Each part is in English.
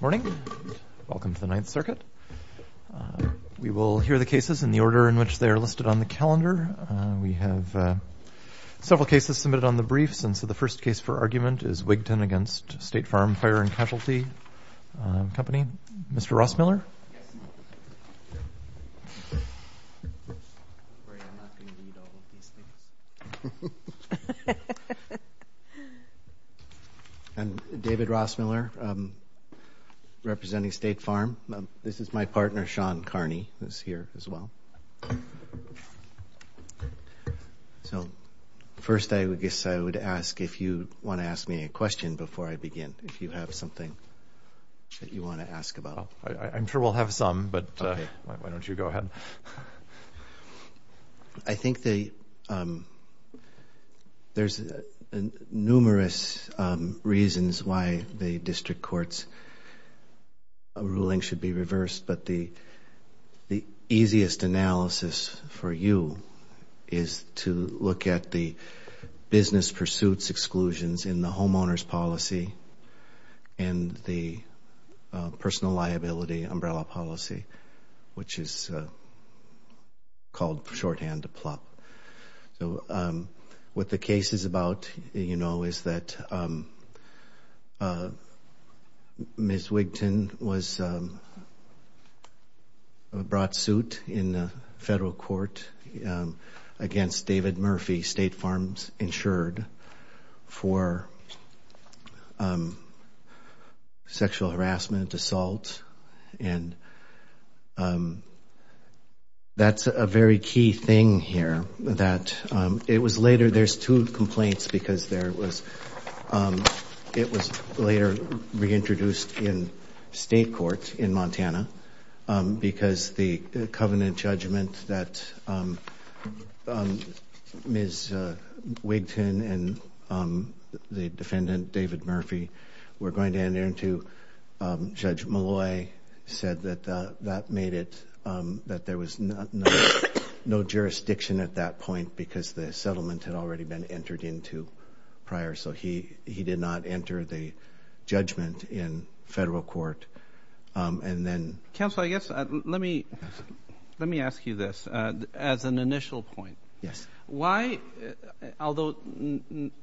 Morning. Welcome to the Ninth Circuit. We will hear the cases in the order in which they are listed on the calendar. We have several cases submitted on the briefs, and so the first case for argument is Wigton v. State Farm Fire & Casualty Co. Mr. Rossmiller? Yes. I'm afraid I'm not going to read all of these things. I'm David Rossmiller, representing State Farm. This is my partner, Sean Carney, who is here as well. So first I guess I would ask if you want to ask me a question before I begin, if you have something that you want to ask about. I'm sure we'll have some, but why don't you go ahead. I think there's numerous reasons why the district court's ruling should be reversed, but the easiest analysis for you is to look at the business pursuits exclusions in the homeowner's policy and the personal liability umbrella policy, which is called shorthand to PLOP. So what the case is about, you know, is that Ms. Wigton was brought suit in the federal court against David Murphy, State Farm's insured for sexual harassment, assault, and that's a very key thing here that it was later. There's two complaints because it was later reintroduced in state court in Montana because the covenant judgment that Ms. Wigton and the defendant David Murphy were going to enter into, Judge Malloy said that that made it, that there was no jurisdiction at that point because the settlement had already been entered into prior, so he did not enter the judgment in federal court. Counsel, I guess let me ask you this as an initial point. Yes. Why, although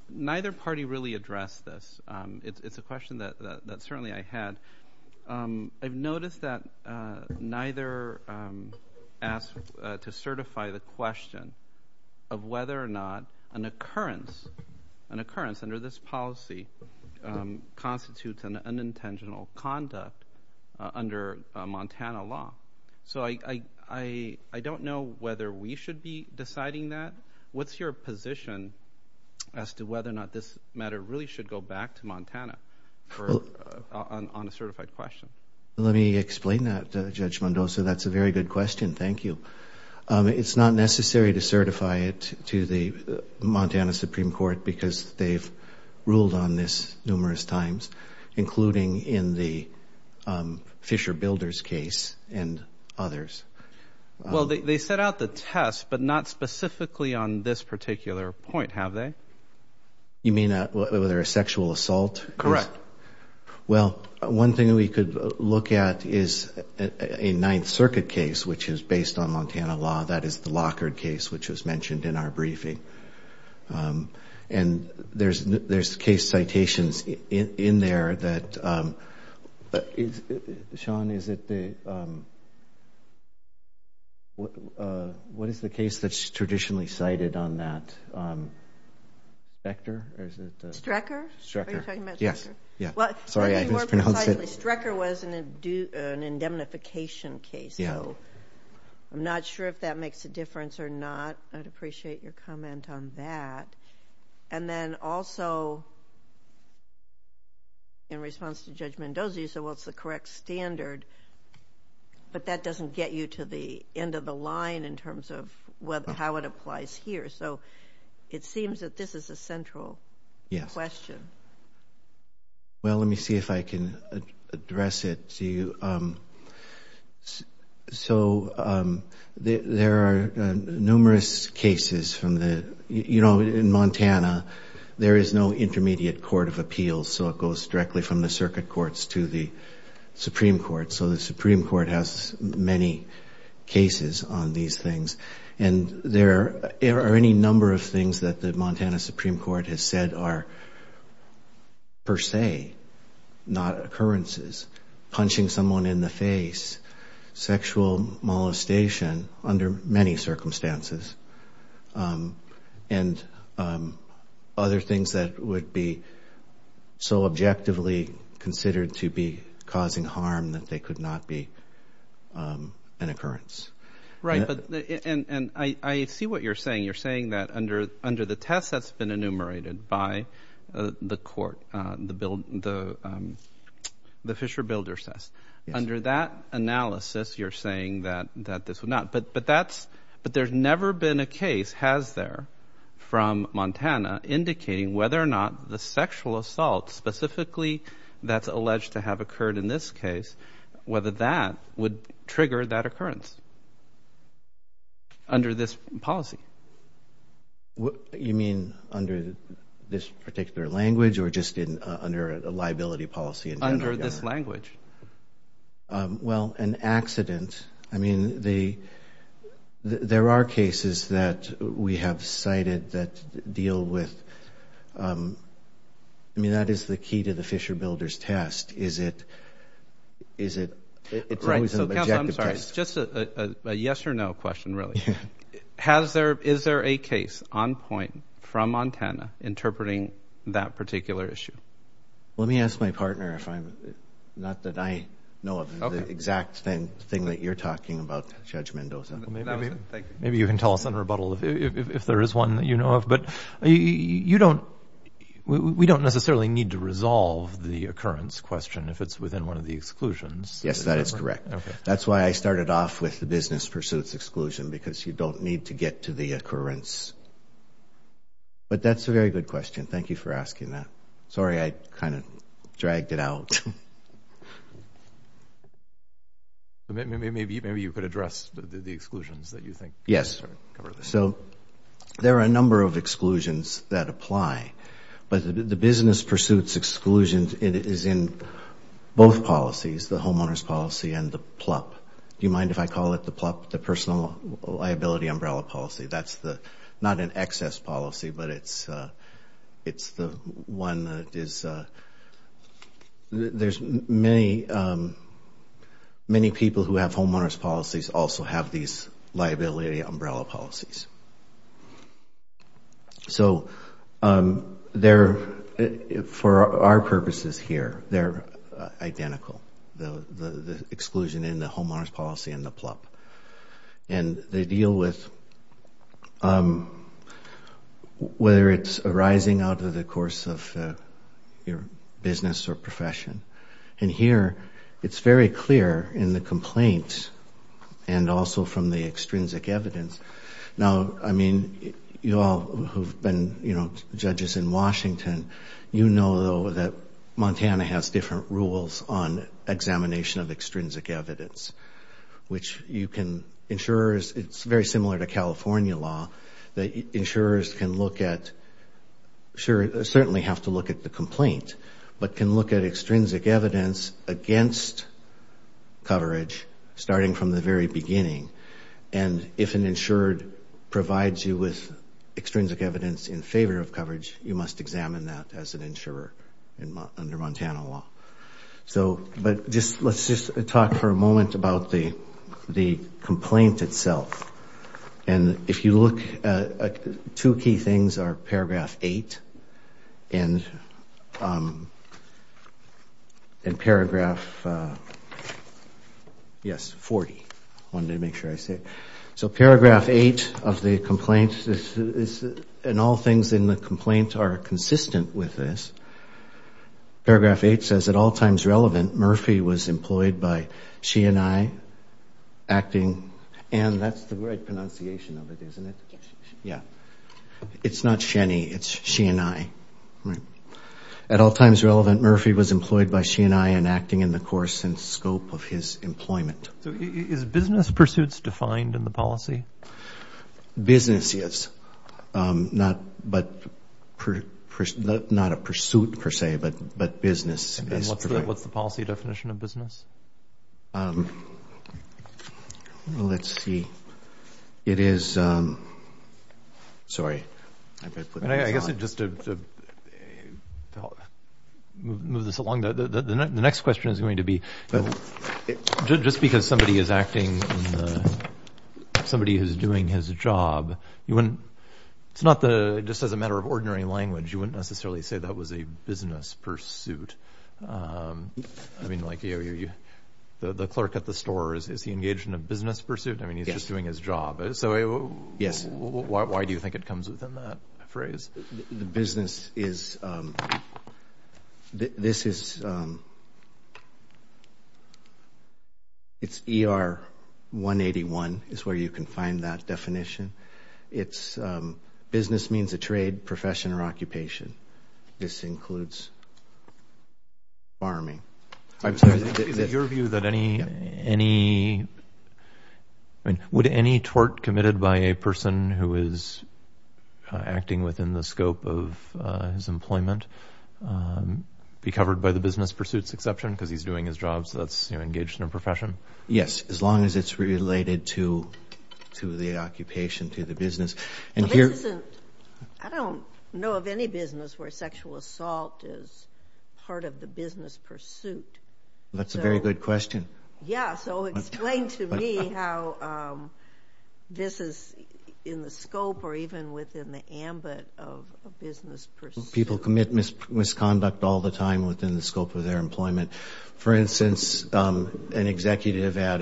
neither party really addressed this, it's a question that certainly I had. I've noticed that neither asked to certify the question of whether or not an occurrence, under this policy, constitutes an unintentional conduct under Montana law. So I don't know whether we should be deciding that. What's your position as to whether or not this matter really should go back to Montana on a certified question? Let me explain that, Judge Mendoza. That's a very good question. Thank you. It's not necessary to certify it to the Montana Supreme Court because they've ruled on this numerous times, including in the Fisher Builders case and others. Well, they set out the test, but not specifically on this particular point, have they? You mean whether a sexual assault? Correct. Well, one thing we could look at is a Ninth Circuit case, which is based on Montana law. That is the Lockard case, which was mentioned in our briefing. And there's case citations in there. Shawn, what is the case that's traditionally cited on that? Strecker? Are you talking about Strecker? Yes. Sorry, I mispronounced it. Strecker was an indemnification case. I'm not sure if that makes a difference or not. I'd appreciate your comment on that. And then also, in response to Judge Mendoza, you said, well, it's the correct standard, but that doesn't get you to the end of the line in terms of how it applies here. So it seems that this is a central question. Yes. Well, let me see if I can address it to you. So there are numerous cases from the, you know, in Montana, there is no intermediate court of appeals, so it goes directly from the circuit courts to the Supreme Court. So the Supreme Court has many cases on these things. And there are any number of things that the Montana Supreme Court has said are per se, not occurrences, punching someone in the face, sexual molestation under many circumstances, and other things that would be so objectively considered to be causing harm that they could not be an occurrence. Right. And I see what you're saying. You're saying that under the test that's been enumerated by the court, the Fisher Builder test, under that analysis, you're saying that this would not. But there's never been a case, has there, from Montana, indicating whether or not the sexual assault, specifically that's alleged to have occurred in this case, whether that would trigger that occurrence under this policy? You mean under this particular language or just under a liability policy? Under this language. Well, an accident. I mean, there are cases that we have cited that deal with, I mean, that is the key to the Fisher Builder's test, it's always an objective test. I'm sorry, just a yes or no question, really. Is there a case on point from Montana interpreting that particular issue? Let me ask my partner if I'm, not that I know of, the exact thing that you're talking about, Judge Mendoza. Maybe you can tell us in rebuttal if there is one that you know of. But you don't, we don't necessarily need to resolve the occurrence question if it's within one of the exclusions. Yes, that is correct. That's why I started off with the business pursuits exclusion, because you don't need to get to the occurrence. But that's a very good question. Thank you for asking that. Sorry I kind of dragged it out. Maybe you could address the exclusions that you think. Yes. So there are a number of exclusions that apply. But the business pursuits exclusion is in both policies, the homeowner's policy and the PLUP. Do you mind if I call it the PLUP, the Personal Liability Umbrella Policy? That's the, not an excess policy, but it's the one that is, there's many people who have homeowner's policies also have these liability umbrella policies. So they're, for our purposes here, they're identical, the exclusion in the homeowner's policy and the PLUP. And they deal with whether it's arising out of the course of your business or profession. And here, it's very clear in the complaint and also from the extrinsic evidence. Now, I mean, you all who've been judges in Washington, you know that Montana has different rules on examination of extrinsic evidence, which you can, insurers, it's very similar to California law, that insurers can look at, certainly have to look at the complaint, but can look at extrinsic evidence against coverage, starting from the very beginning. And if an insurer provides you with extrinsic evidence in favor of coverage, you must examine that as an insurer under Montana law. But let's just talk for a moment about the complaint itself. And if you look, two key things are Paragraph 8 and Paragraph, yes, 40. I wanted to make sure I said it. So Paragraph 8 of the complaint, and all things in the complaint are consistent with this. Paragraph 8 says, at all times relevant, Murphy was employed by she and I, acting. And that's the right pronunciation of it, isn't it? Yeah. It's not she and I, it's she and I. At all times relevant, Murphy was employed by she and I, and acting in the course and scope of his employment. So is business pursuits defined in the policy? Business is. Not a pursuit, per se, but business is. And what's the policy definition of business? Let's see. It is, sorry. I guess just to move this along, the next question is going to be, just because somebody is acting, somebody who's doing his job, you wouldn't, it's not the, just as a matter of ordinary language, you wouldn't necessarily say that was a business pursuit. I mean, like the clerk at the store, is he engaged in a business pursuit? I mean, he's just doing his job. So why do you think it comes within that phrase? The business is, this is, it's ER 181 is where you can find that definition. It's business means a trade, profession, or occupation. This includes farming. Is it your view that any, any, I mean, would any tort committed by a person who is acting within the scope of his employment be covered by the business pursuits exception, because he's doing his job, so that's engaged in a profession? Yes, as long as it's related to the occupation, to the business. This isn't, I don't know of any business where sexual assault is part of the business pursuit. That's a very good question. Yeah, so explain to me how this is in the scope, or even within the ambit of a business pursuit. People commit misconduct all the time within the scope of their employment. For instance, an executive at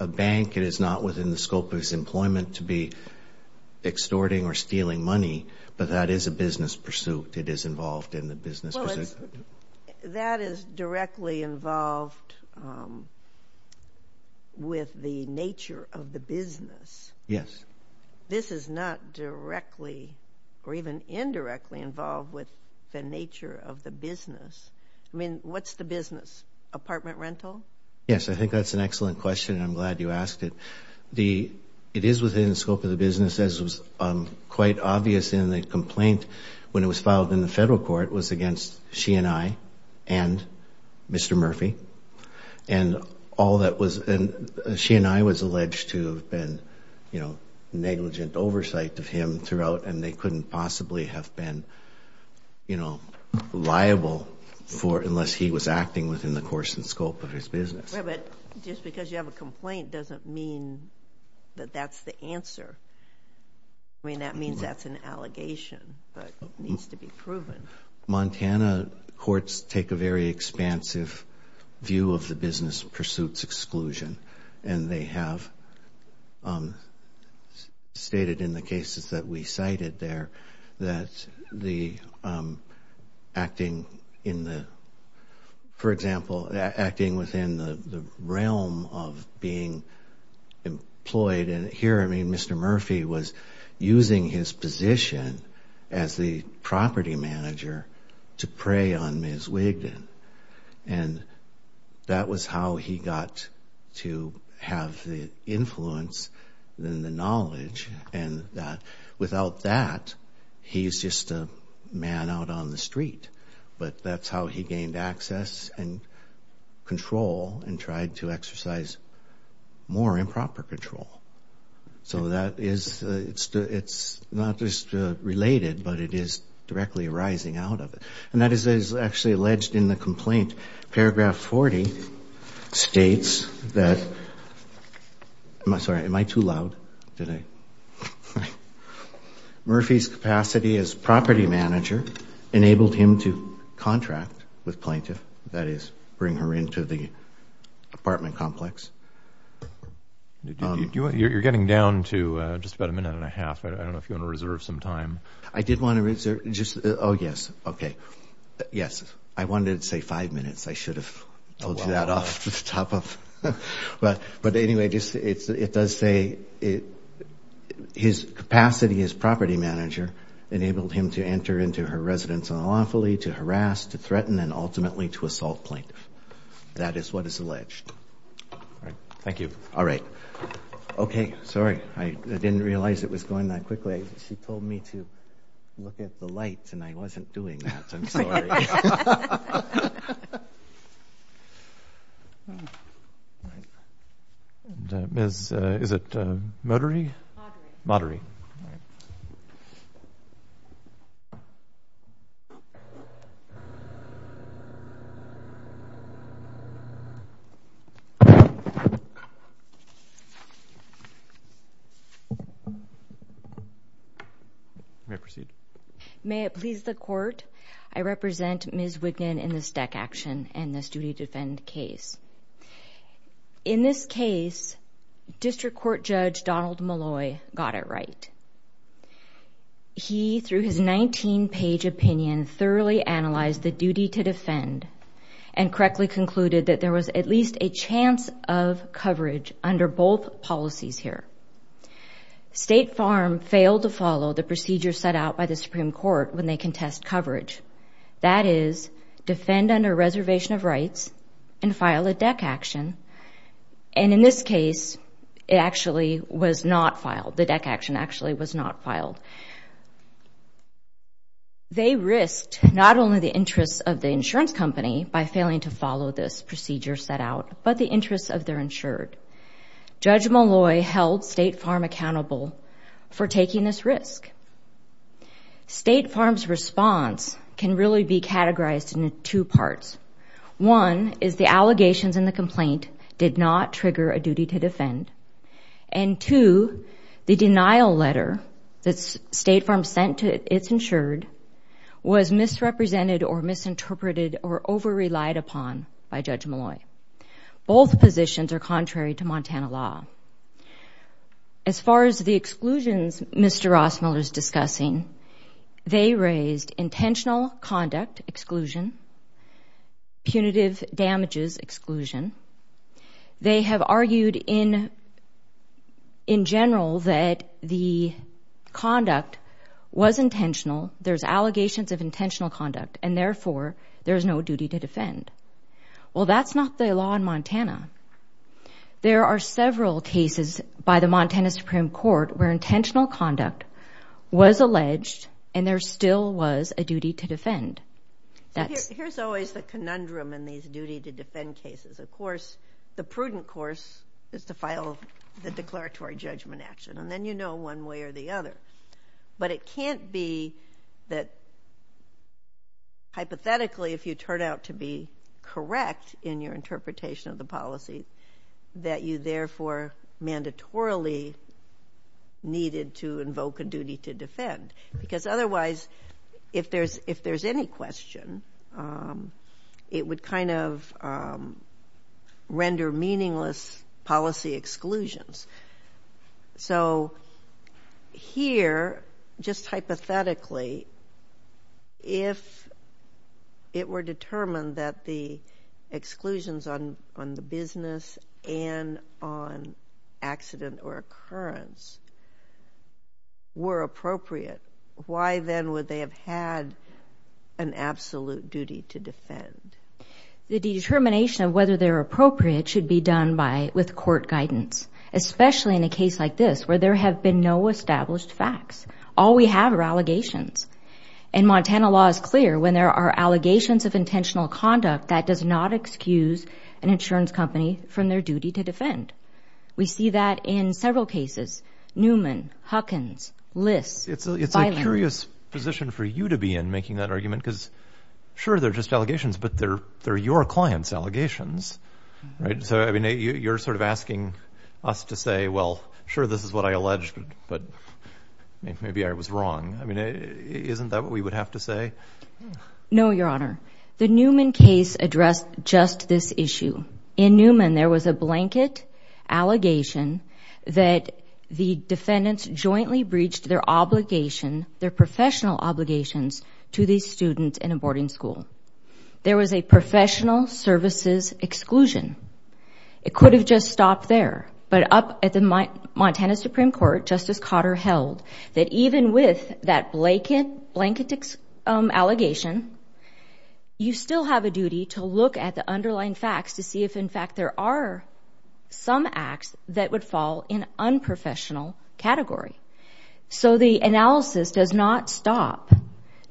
a bank, it is not within the scope of his employment to be extorting or stealing money, but that is a business pursuit. It is involved in the business pursuit. Well, that is directly involved with the nature of the business. Yes. This is not directly, or even indirectly, involved with the nature of the business. I mean, what's the business? Apartment rental? Yes, I think that's an excellent question, and I'm glad you asked it. It is within the scope of the business, as was quite obvious in the complaint when it was filed in the federal court, was against she and I and Mr. Murphy. And all that was, she and I was alleged to have been negligent oversight of him throughout, and they couldn't possibly have been liable for it unless he was acting within the course and scope of his business. Yes, but just because you have a complaint doesn't mean that that's the answer. I mean, that means that's an allegation, but it needs to be proven. Montana courts take a very expansive view of the business pursuits exclusion, and they have stated in the cases that we cited there that the acting in the, for example, acting within the realm of being employed, and here, I mean, Mr. Murphy was using his position as the property manager to prey on Ms. Wigdon, and that was how he got to have the influence and the knowledge, and without that, he's just a man out on the street. But that's how he gained access and control and tried to exercise more improper control. So that is, it's not just related, but it is directly arising out of it. And that is actually alleged in the complaint. Paragraph 40 states that, I'm sorry, am I too loud? Murphy's capacity as property manager enabled him to contract with plaintiff, that is, bring her into the apartment complex. You're getting down to just about a minute and a half. I don't know if you want to reserve some time. I did want to reserve just, oh, yes. Okay. Yes. I wanted to say five minutes. I should have told you that off the top of, but anyway, it does say his capacity as property manager enabled him to enter into her residence unlawfully, to harass, to threaten, and ultimately to assault plaintiff. That is what is alleged. All right. Thank you. All right. Okay. Sorry, I didn't realize it was going that quickly. She told me to look at the lights, and I wasn't doing that. I'm sorry. All right. Is it motory? Motory. All right. May it please the court. I represent Ms. Wignan in this DEC action and this duty to defend case. In this case, District Court Judge Donald Malloy got it right. He, through his 19-page opinion, thoroughly analyzed the duty to defend and correctly concluded that there was at least a chance of coverage under both policies here. State Farm failed to follow the procedure set out by the Supreme Court when they contest coverage. That is, defend under reservation of rights and file a DEC action. And in this case, it actually was not filed. The DEC action actually was not filed. They risked not only the interests of the insurance company by failing to follow this procedure set out, but the interests of their insured. Judge Malloy held State Farm accountable for taking this risk. State Farm's response can really be categorized into two parts. One is the allegations in the complaint did not trigger a duty to defend. And two, the denial letter that State Farm sent to its insured was misrepresented or misinterpreted or over-relied upon by Judge Malloy. Both positions are contrary to Montana law. As far as the exclusions Mr. Rossmiller is discussing, they raised intentional conduct exclusion, punitive damages exclusion. They have argued in general that the conduct was intentional. There's allegations of intentional conduct, and therefore, there's no duty to defend. Well, that's not the law in Montana. There are several cases by the Montana Supreme Court where intentional conduct was alleged and there still was a duty to defend. Here's always the conundrum in these duty to defend cases. Of course, the prudent course is to file the declaratory judgment action, and then you know one way or the other. But it can't be that hypothetically, if you turn out to be correct in your interpretation of the policy, that you therefore mandatorily needed to invoke a duty to defend. Because otherwise, if there's any question, it would kind of render meaningless policy exclusions. So here, just hypothetically, if it were determined that the exclusions on the business and on accident or occurrence were appropriate, why then would they have had an absolute duty to defend? The determination of whether they're appropriate should be done with court guidance, especially in a case like this where there have been no established facts. All we have are allegations. And Montana law is clear. When there are allegations of intentional conduct, that does not excuse an insurance company from their duty to defend. We see that in several cases, Newman, Huckins, Liss. It's a curious position for you to be in, making that argument, because sure, they're just allegations, but they're your clients' allegations, right? So, I mean, you're sort of asking us to say, well, sure, this is what I alleged, but maybe I was wrong. I mean, isn't that what we would have to say? No, Your Honor. The Newman case addressed just this issue. In Newman, there was a blanket allegation that the defendants jointly breached their obligation, their professional obligations, to the student in a boarding school. There was a professional services exclusion. It could have just stopped there, but up at the Montana Supreme Court, Justice Cotter held that even with that blanket allegation, you still have a duty to look at the underlying facts to see if, in fact, there are some acts that would fall in unprofessional category. So the analysis does not stop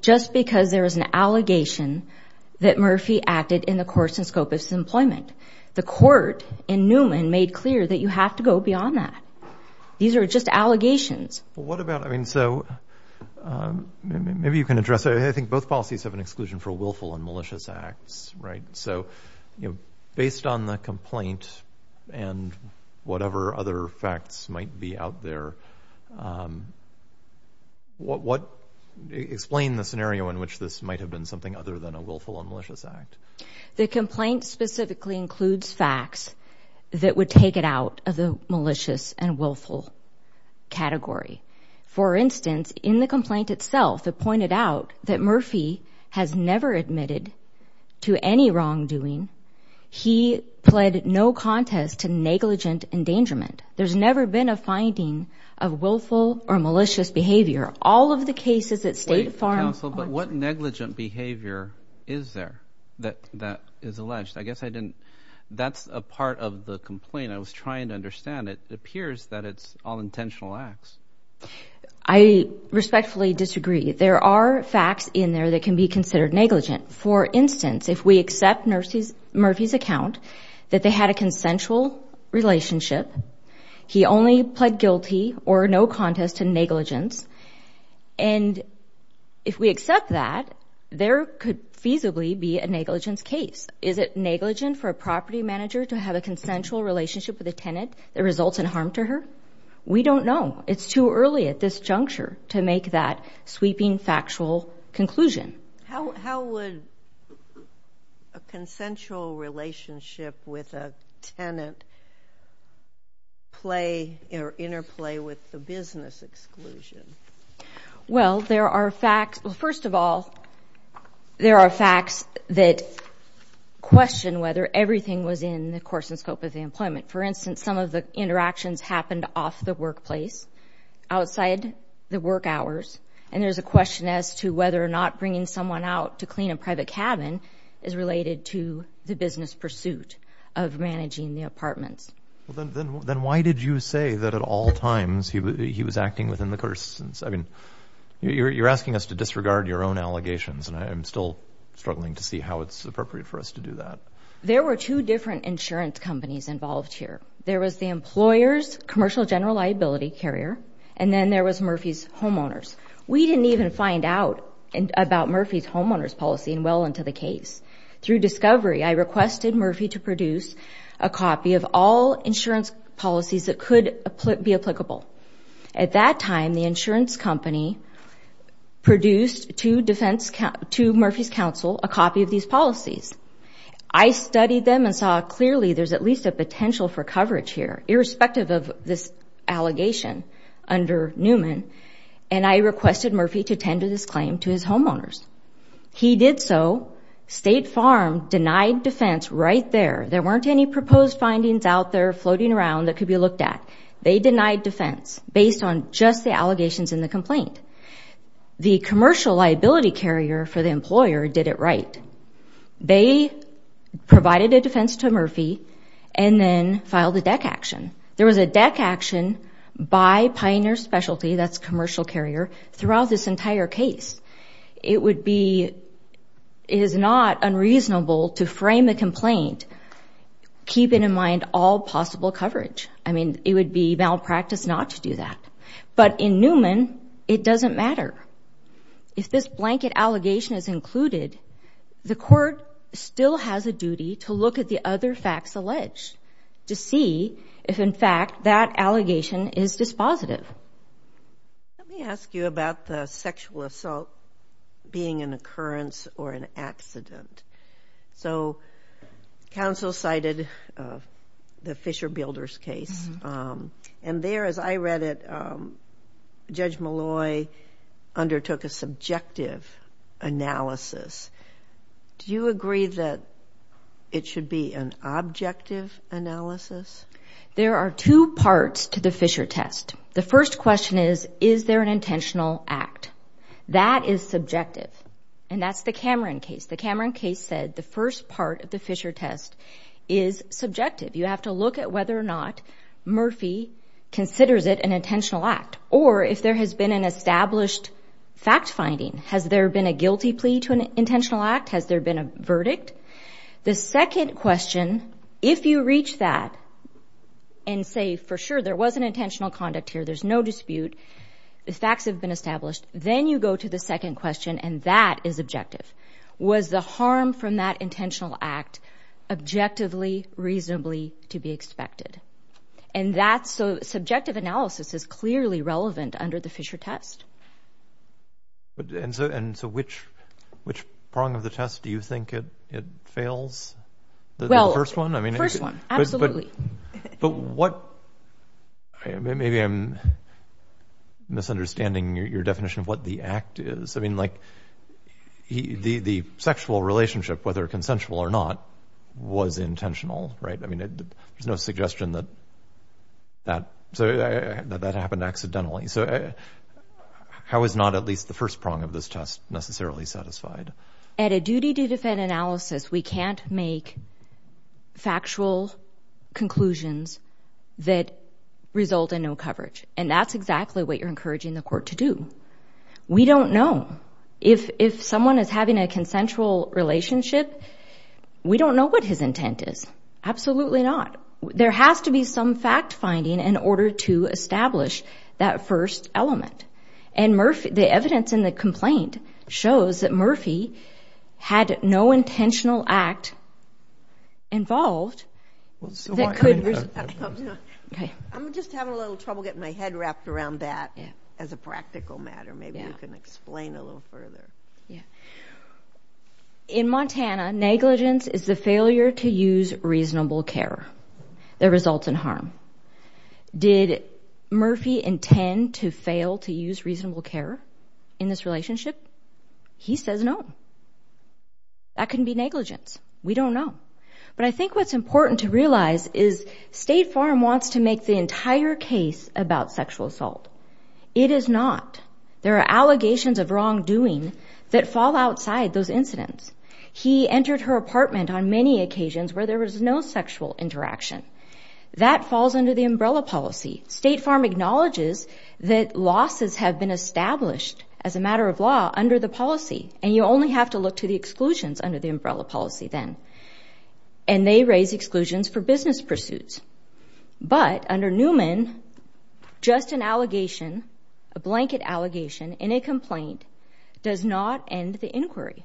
just because there is an allegation that Murphy acted in the course and scope of his employment. The court in Newman made clear that you have to go beyond that. These are just allegations. Well, what about, I mean, so maybe you can address it. I think both policies have an exclusion for willful and malicious acts, right? So, you know, based on the complaint and whatever other facts might be out there, explain the scenario in which this might have been something other than a willful and malicious act. The complaint specifically includes facts that would take it out of the malicious and willful category. For instance, in the complaint itself, it pointed out that Murphy has never admitted to any wrongdoing. He pled no contest to negligent endangerment. There's never been a finding of willful or malicious behavior. All of the cases that State Farm— Wait, counsel, but what negligent behavior is there that is alleged? I guess I didn't—that's a part of the complaint. I was trying to understand. It appears that it's all intentional acts. I respectfully disagree. There are facts in there that can be considered negligent. For instance, if we accept Murphy's account that they had a consensual relationship, he only pled guilty or no contest to negligence, and if we accept that, there could feasibly be a negligence case. Is it negligent for a property manager to have a consensual relationship with a tenant that results in harm to her? We don't know. It's too early at this juncture to make that sweeping factual conclusion. How would a consensual relationship with a tenant play or interplay with the business exclusion? Well, there are facts—well, first of all, there are facts that question whether everything was in the course and scope of the employment. For instance, some of the interactions happened off the workplace, outside the work hours, and there's a question as to whether or not bringing someone out to clean a private cabin is related to the business pursuit of managing the apartments. Well, then why did you say that at all times he was acting within the course? I mean, you're asking us to disregard your own allegations, and I'm still struggling to see how it's appropriate for us to do that. There were two different insurance companies involved here. There was the employer's commercial general liability carrier, and then there was Murphy's homeowners. We didn't even find out about Murphy's homeowners policy well into the case. Through discovery, I requested Murphy to produce a copy of all insurance policies that could be applicable. At that time, the insurance company produced to Murphy's counsel a copy of these policies. I studied them and saw clearly there's at least a potential for coverage here, irrespective of this allegation under Newman, and I requested Murphy to tend to this claim to his homeowners. He did so. State Farm denied defense right there. There weren't any proposed findings out there floating around that could be looked at. They denied defense based on just the allegations in the complaint. The commercial liability carrier for the employer did it right. They provided a defense to Murphy and then filed a DEC action. There was a DEC action by Pioneer Specialty, that's commercial carrier, throughout this entire case. It is not unreasonable to frame a complaint keeping in mind all possible coverage. I mean, it would be malpractice not to do that. But in Newman, it doesn't matter. If this blanket allegation is included, the court still has a duty to look at the other facts alleged to see if, in fact, that allegation is dispositive. Let me ask you about the sexual assault being an occurrence or an accident. So, counsel cited the Fisher Builders case. And there, as I read it, Judge Malloy undertook a subjective analysis. Do you agree that it should be an objective analysis? There are two parts to the Fisher test. The first question is, is there an intentional act? That is subjective. And that's the Cameron case. The Cameron case said the first part of the Fisher test is subjective. You have to look at whether or not Murphy considers it an intentional act or if there has been an established fact finding. Has there been a guilty plea to an intentional act? Has there been a verdict? The second question, if you reach that and say, for sure, there was an intentional conduct here, there's no dispute, the facts have been established, then you go to the second question, and that is objective. Was the harm from that intentional act objectively, reasonably to be expected? And that subjective analysis is clearly relevant under the Fisher test. And so which prong of the test do you think it fails? The first one? The first one, absolutely. But what – maybe I'm misunderstanding your definition of what the act is. I mean, like, the sexual relationship, whether consensual or not, was intentional, right? I mean, there's no suggestion that that happened accidentally. So how is not at least the first prong of this test necessarily satisfied? At a duty-to-defend analysis, we can't make factual conclusions that result in no coverage. And that's exactly what you're encouraging the court to do. We don't know. If someone is having a consensual relationship, we don't know what his intent is. Absolutely not. Now, there has to be some fact-finding in order to establish that first element. And the evidence in the complaint shows that Murphy had no intentional act involved that could – I'm just having a little trouble getting my head wrapped around that as a practical matter. Maybe you can explain a little further. Yeah. In Montana, negligence is the failure to use reasonable care that results in harm. Did Murphy intend to fail to use reasonable care in this relationship? He says no. That couldn't be negligence. We don't know. But I think what's important to realize is State Farm wants to make the entire case about sexual assault. It is not. There are allegations of wrongdoing that fall outside those incidents. He entered her apartment on many occasions where there was no sexual interaction. That falls under the umbrella policy. State Farm acknowledges that losses have been established as a matter of law under the policy, and you only have to look to the exclusions under the umbrella policy then. And they raise exclusions for business pursuits. But under Newman, just an allegation, a blanket allegation in a complaint does not end the inquiry.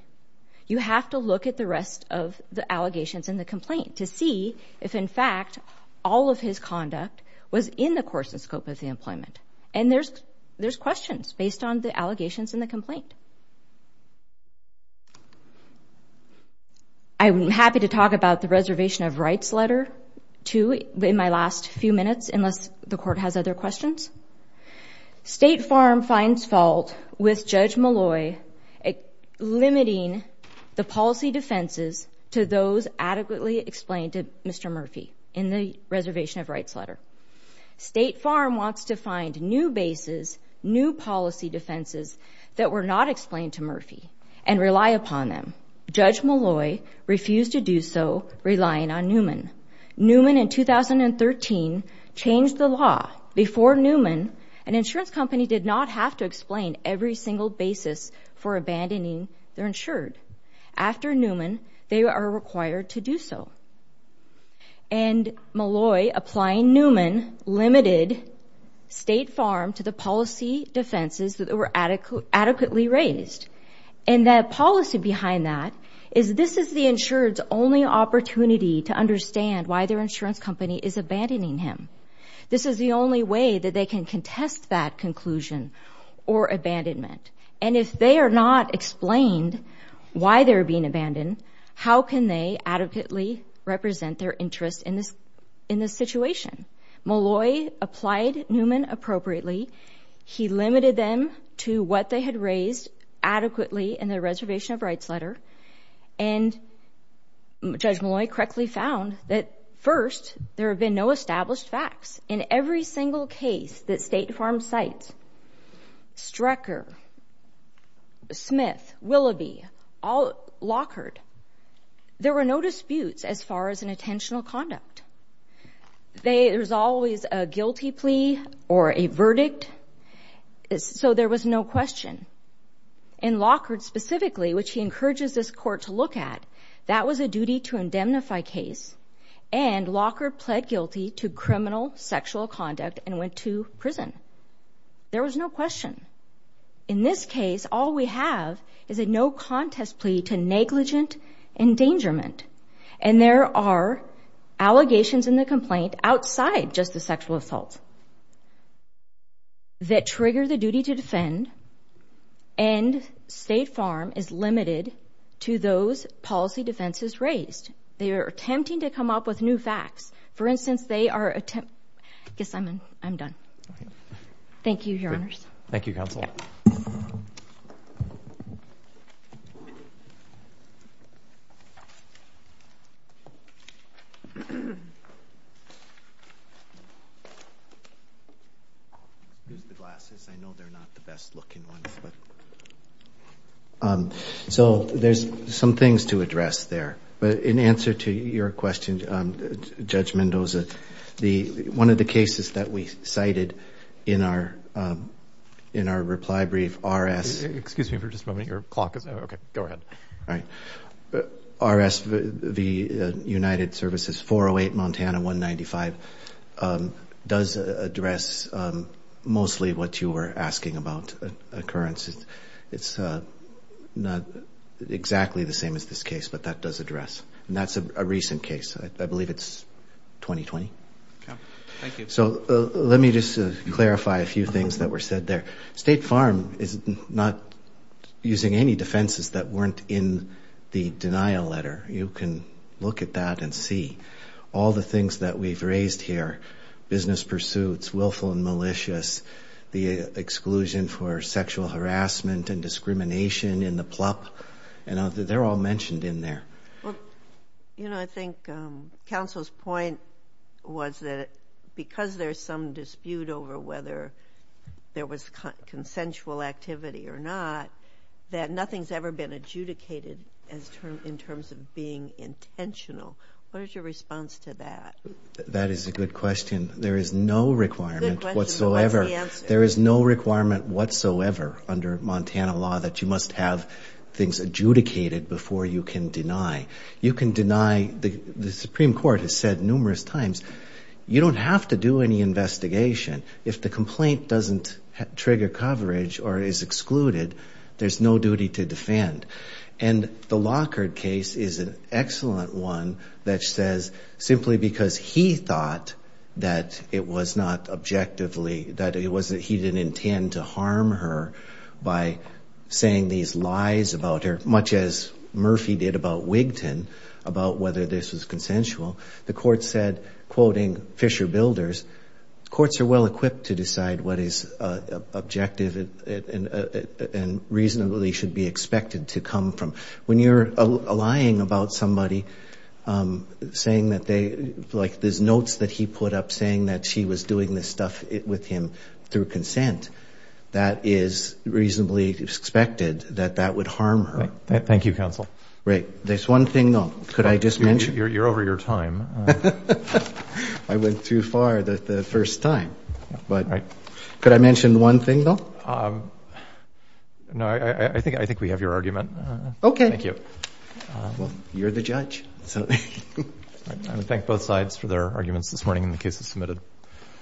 You have to look at the rest of the allegations in the complaint to see if, in fact, all of his conduct was in the course and scope of the employment. And there's questions based on the allegations in the complaint. I'm happy to talk about the Reservation of Rights letter, too, in my last few minutes, unless the Court has other questions. State Farm finds fault with Judge Malloy limiting the policy defenses to those adequately explained to Mr. Murphy in the Reservation of Rights letter. State Farm wants to find new bases, new policy defenses that were not explained to Murphy and rely upon them. Judge Malloy refused to do so, relying on Newman. Newman, in 2013, changed the law. Before Newman, an insurance company did not have to explain every single basis for abandoning their insured. After Newman, they are required to do so. And Malloy, applying Newman, limited State Farm to the policy defenses that were adequately raised. And the policy behind that is this is the insured's only opportunity to understand why their insurance company is abandoning him. This is the only way that they can contest that conclusion or abandonment. And if they are not explained why they're being abandoned, how can they adequately represent their interest in this situation? Malloy applied Newman appropriately. He limited them to what they had raised adequately in the Reservation of Rights letter. And Judge Malloy correctly found that, first, there have been no established facts. In every single case that State Farm cites, Strecker, Smith, Willoughby, Lockard, there were no disputes as far as an intentional conduct. There's always a guilty plea or a verdict, so there was no question. In Lockard, specifically, which he encourages this Court to look at, that was a duty to indemnify case. And Lockard pled guilty to criminal sexual conduct and went to prison. There was no question. In this case, all we have is a no-contest plea to negligent endangerment. And there are allegations in the complaint outside just the sexual assault that trigger the duty to defend. And State Farm is limited to those policy defenses raised. They are attempting to come up with new facts. For instance, they are attempt—I guess I'm done. Thank you, Counsel. Use the glasses. I know they're not the best-looking ones. So there's some things to address there. But in answer to your question, Judge Mendoza, one of the cases that we cited in our reply brief, RS— Excuse me for just a moment. All right. RS v. United Services, 408 Montana 195, does address mostly what you were asking about occurrences. It's not exactly the same as this case, but that does address. And that's a recent case. I believe it's 2020. Okay. Thank you. So let me just clarify a few things that were said there. State Farm is not using any defenses that weren't in the denial letter. You can look at that and see. All the things that we've raised here, business pursuits, willful and malicious, the exclusion for sexual harassment and discrimination in the PLUP, they're all mentioned in there. Well, you know, I think counsel's point was that because there's some dispute over whether there was consensual activity or not, that nothing's ever been adjudicated in terms of being intentional. What is your response to that? That is a good question. There is no requirement whatsoever. Good question, but what's the answer? The Supreme Court has said numerous times, you don't have to do any investigation. If the complaint doesn't trigger coverage or is excluded, there's no duty to defend. And the Lockhart case is an excellent one that says simply because he thought that it was not objectively, that he didn't intend to harm her by saying these lies about her, much as Murphy did about Wigton, about whether this was consensual. The court said, quoting Fisher Builders, courts are well-equipped to decide what is objective and reasonably should be expected to come from. When you're lying about somebody, saying that they, like there's notes that he put up saying that she was doing this stuff with him through consent, that is reasonably expected that that would harm her. Thank you, counsel. Right. There's one thing, though. Could I just mention? You're over your time. I went too far the first time. No, I think we have your argument. Okay. Thank you. Well, you're the judge. I would thank both sides for their arguments this morning and the cases submitted.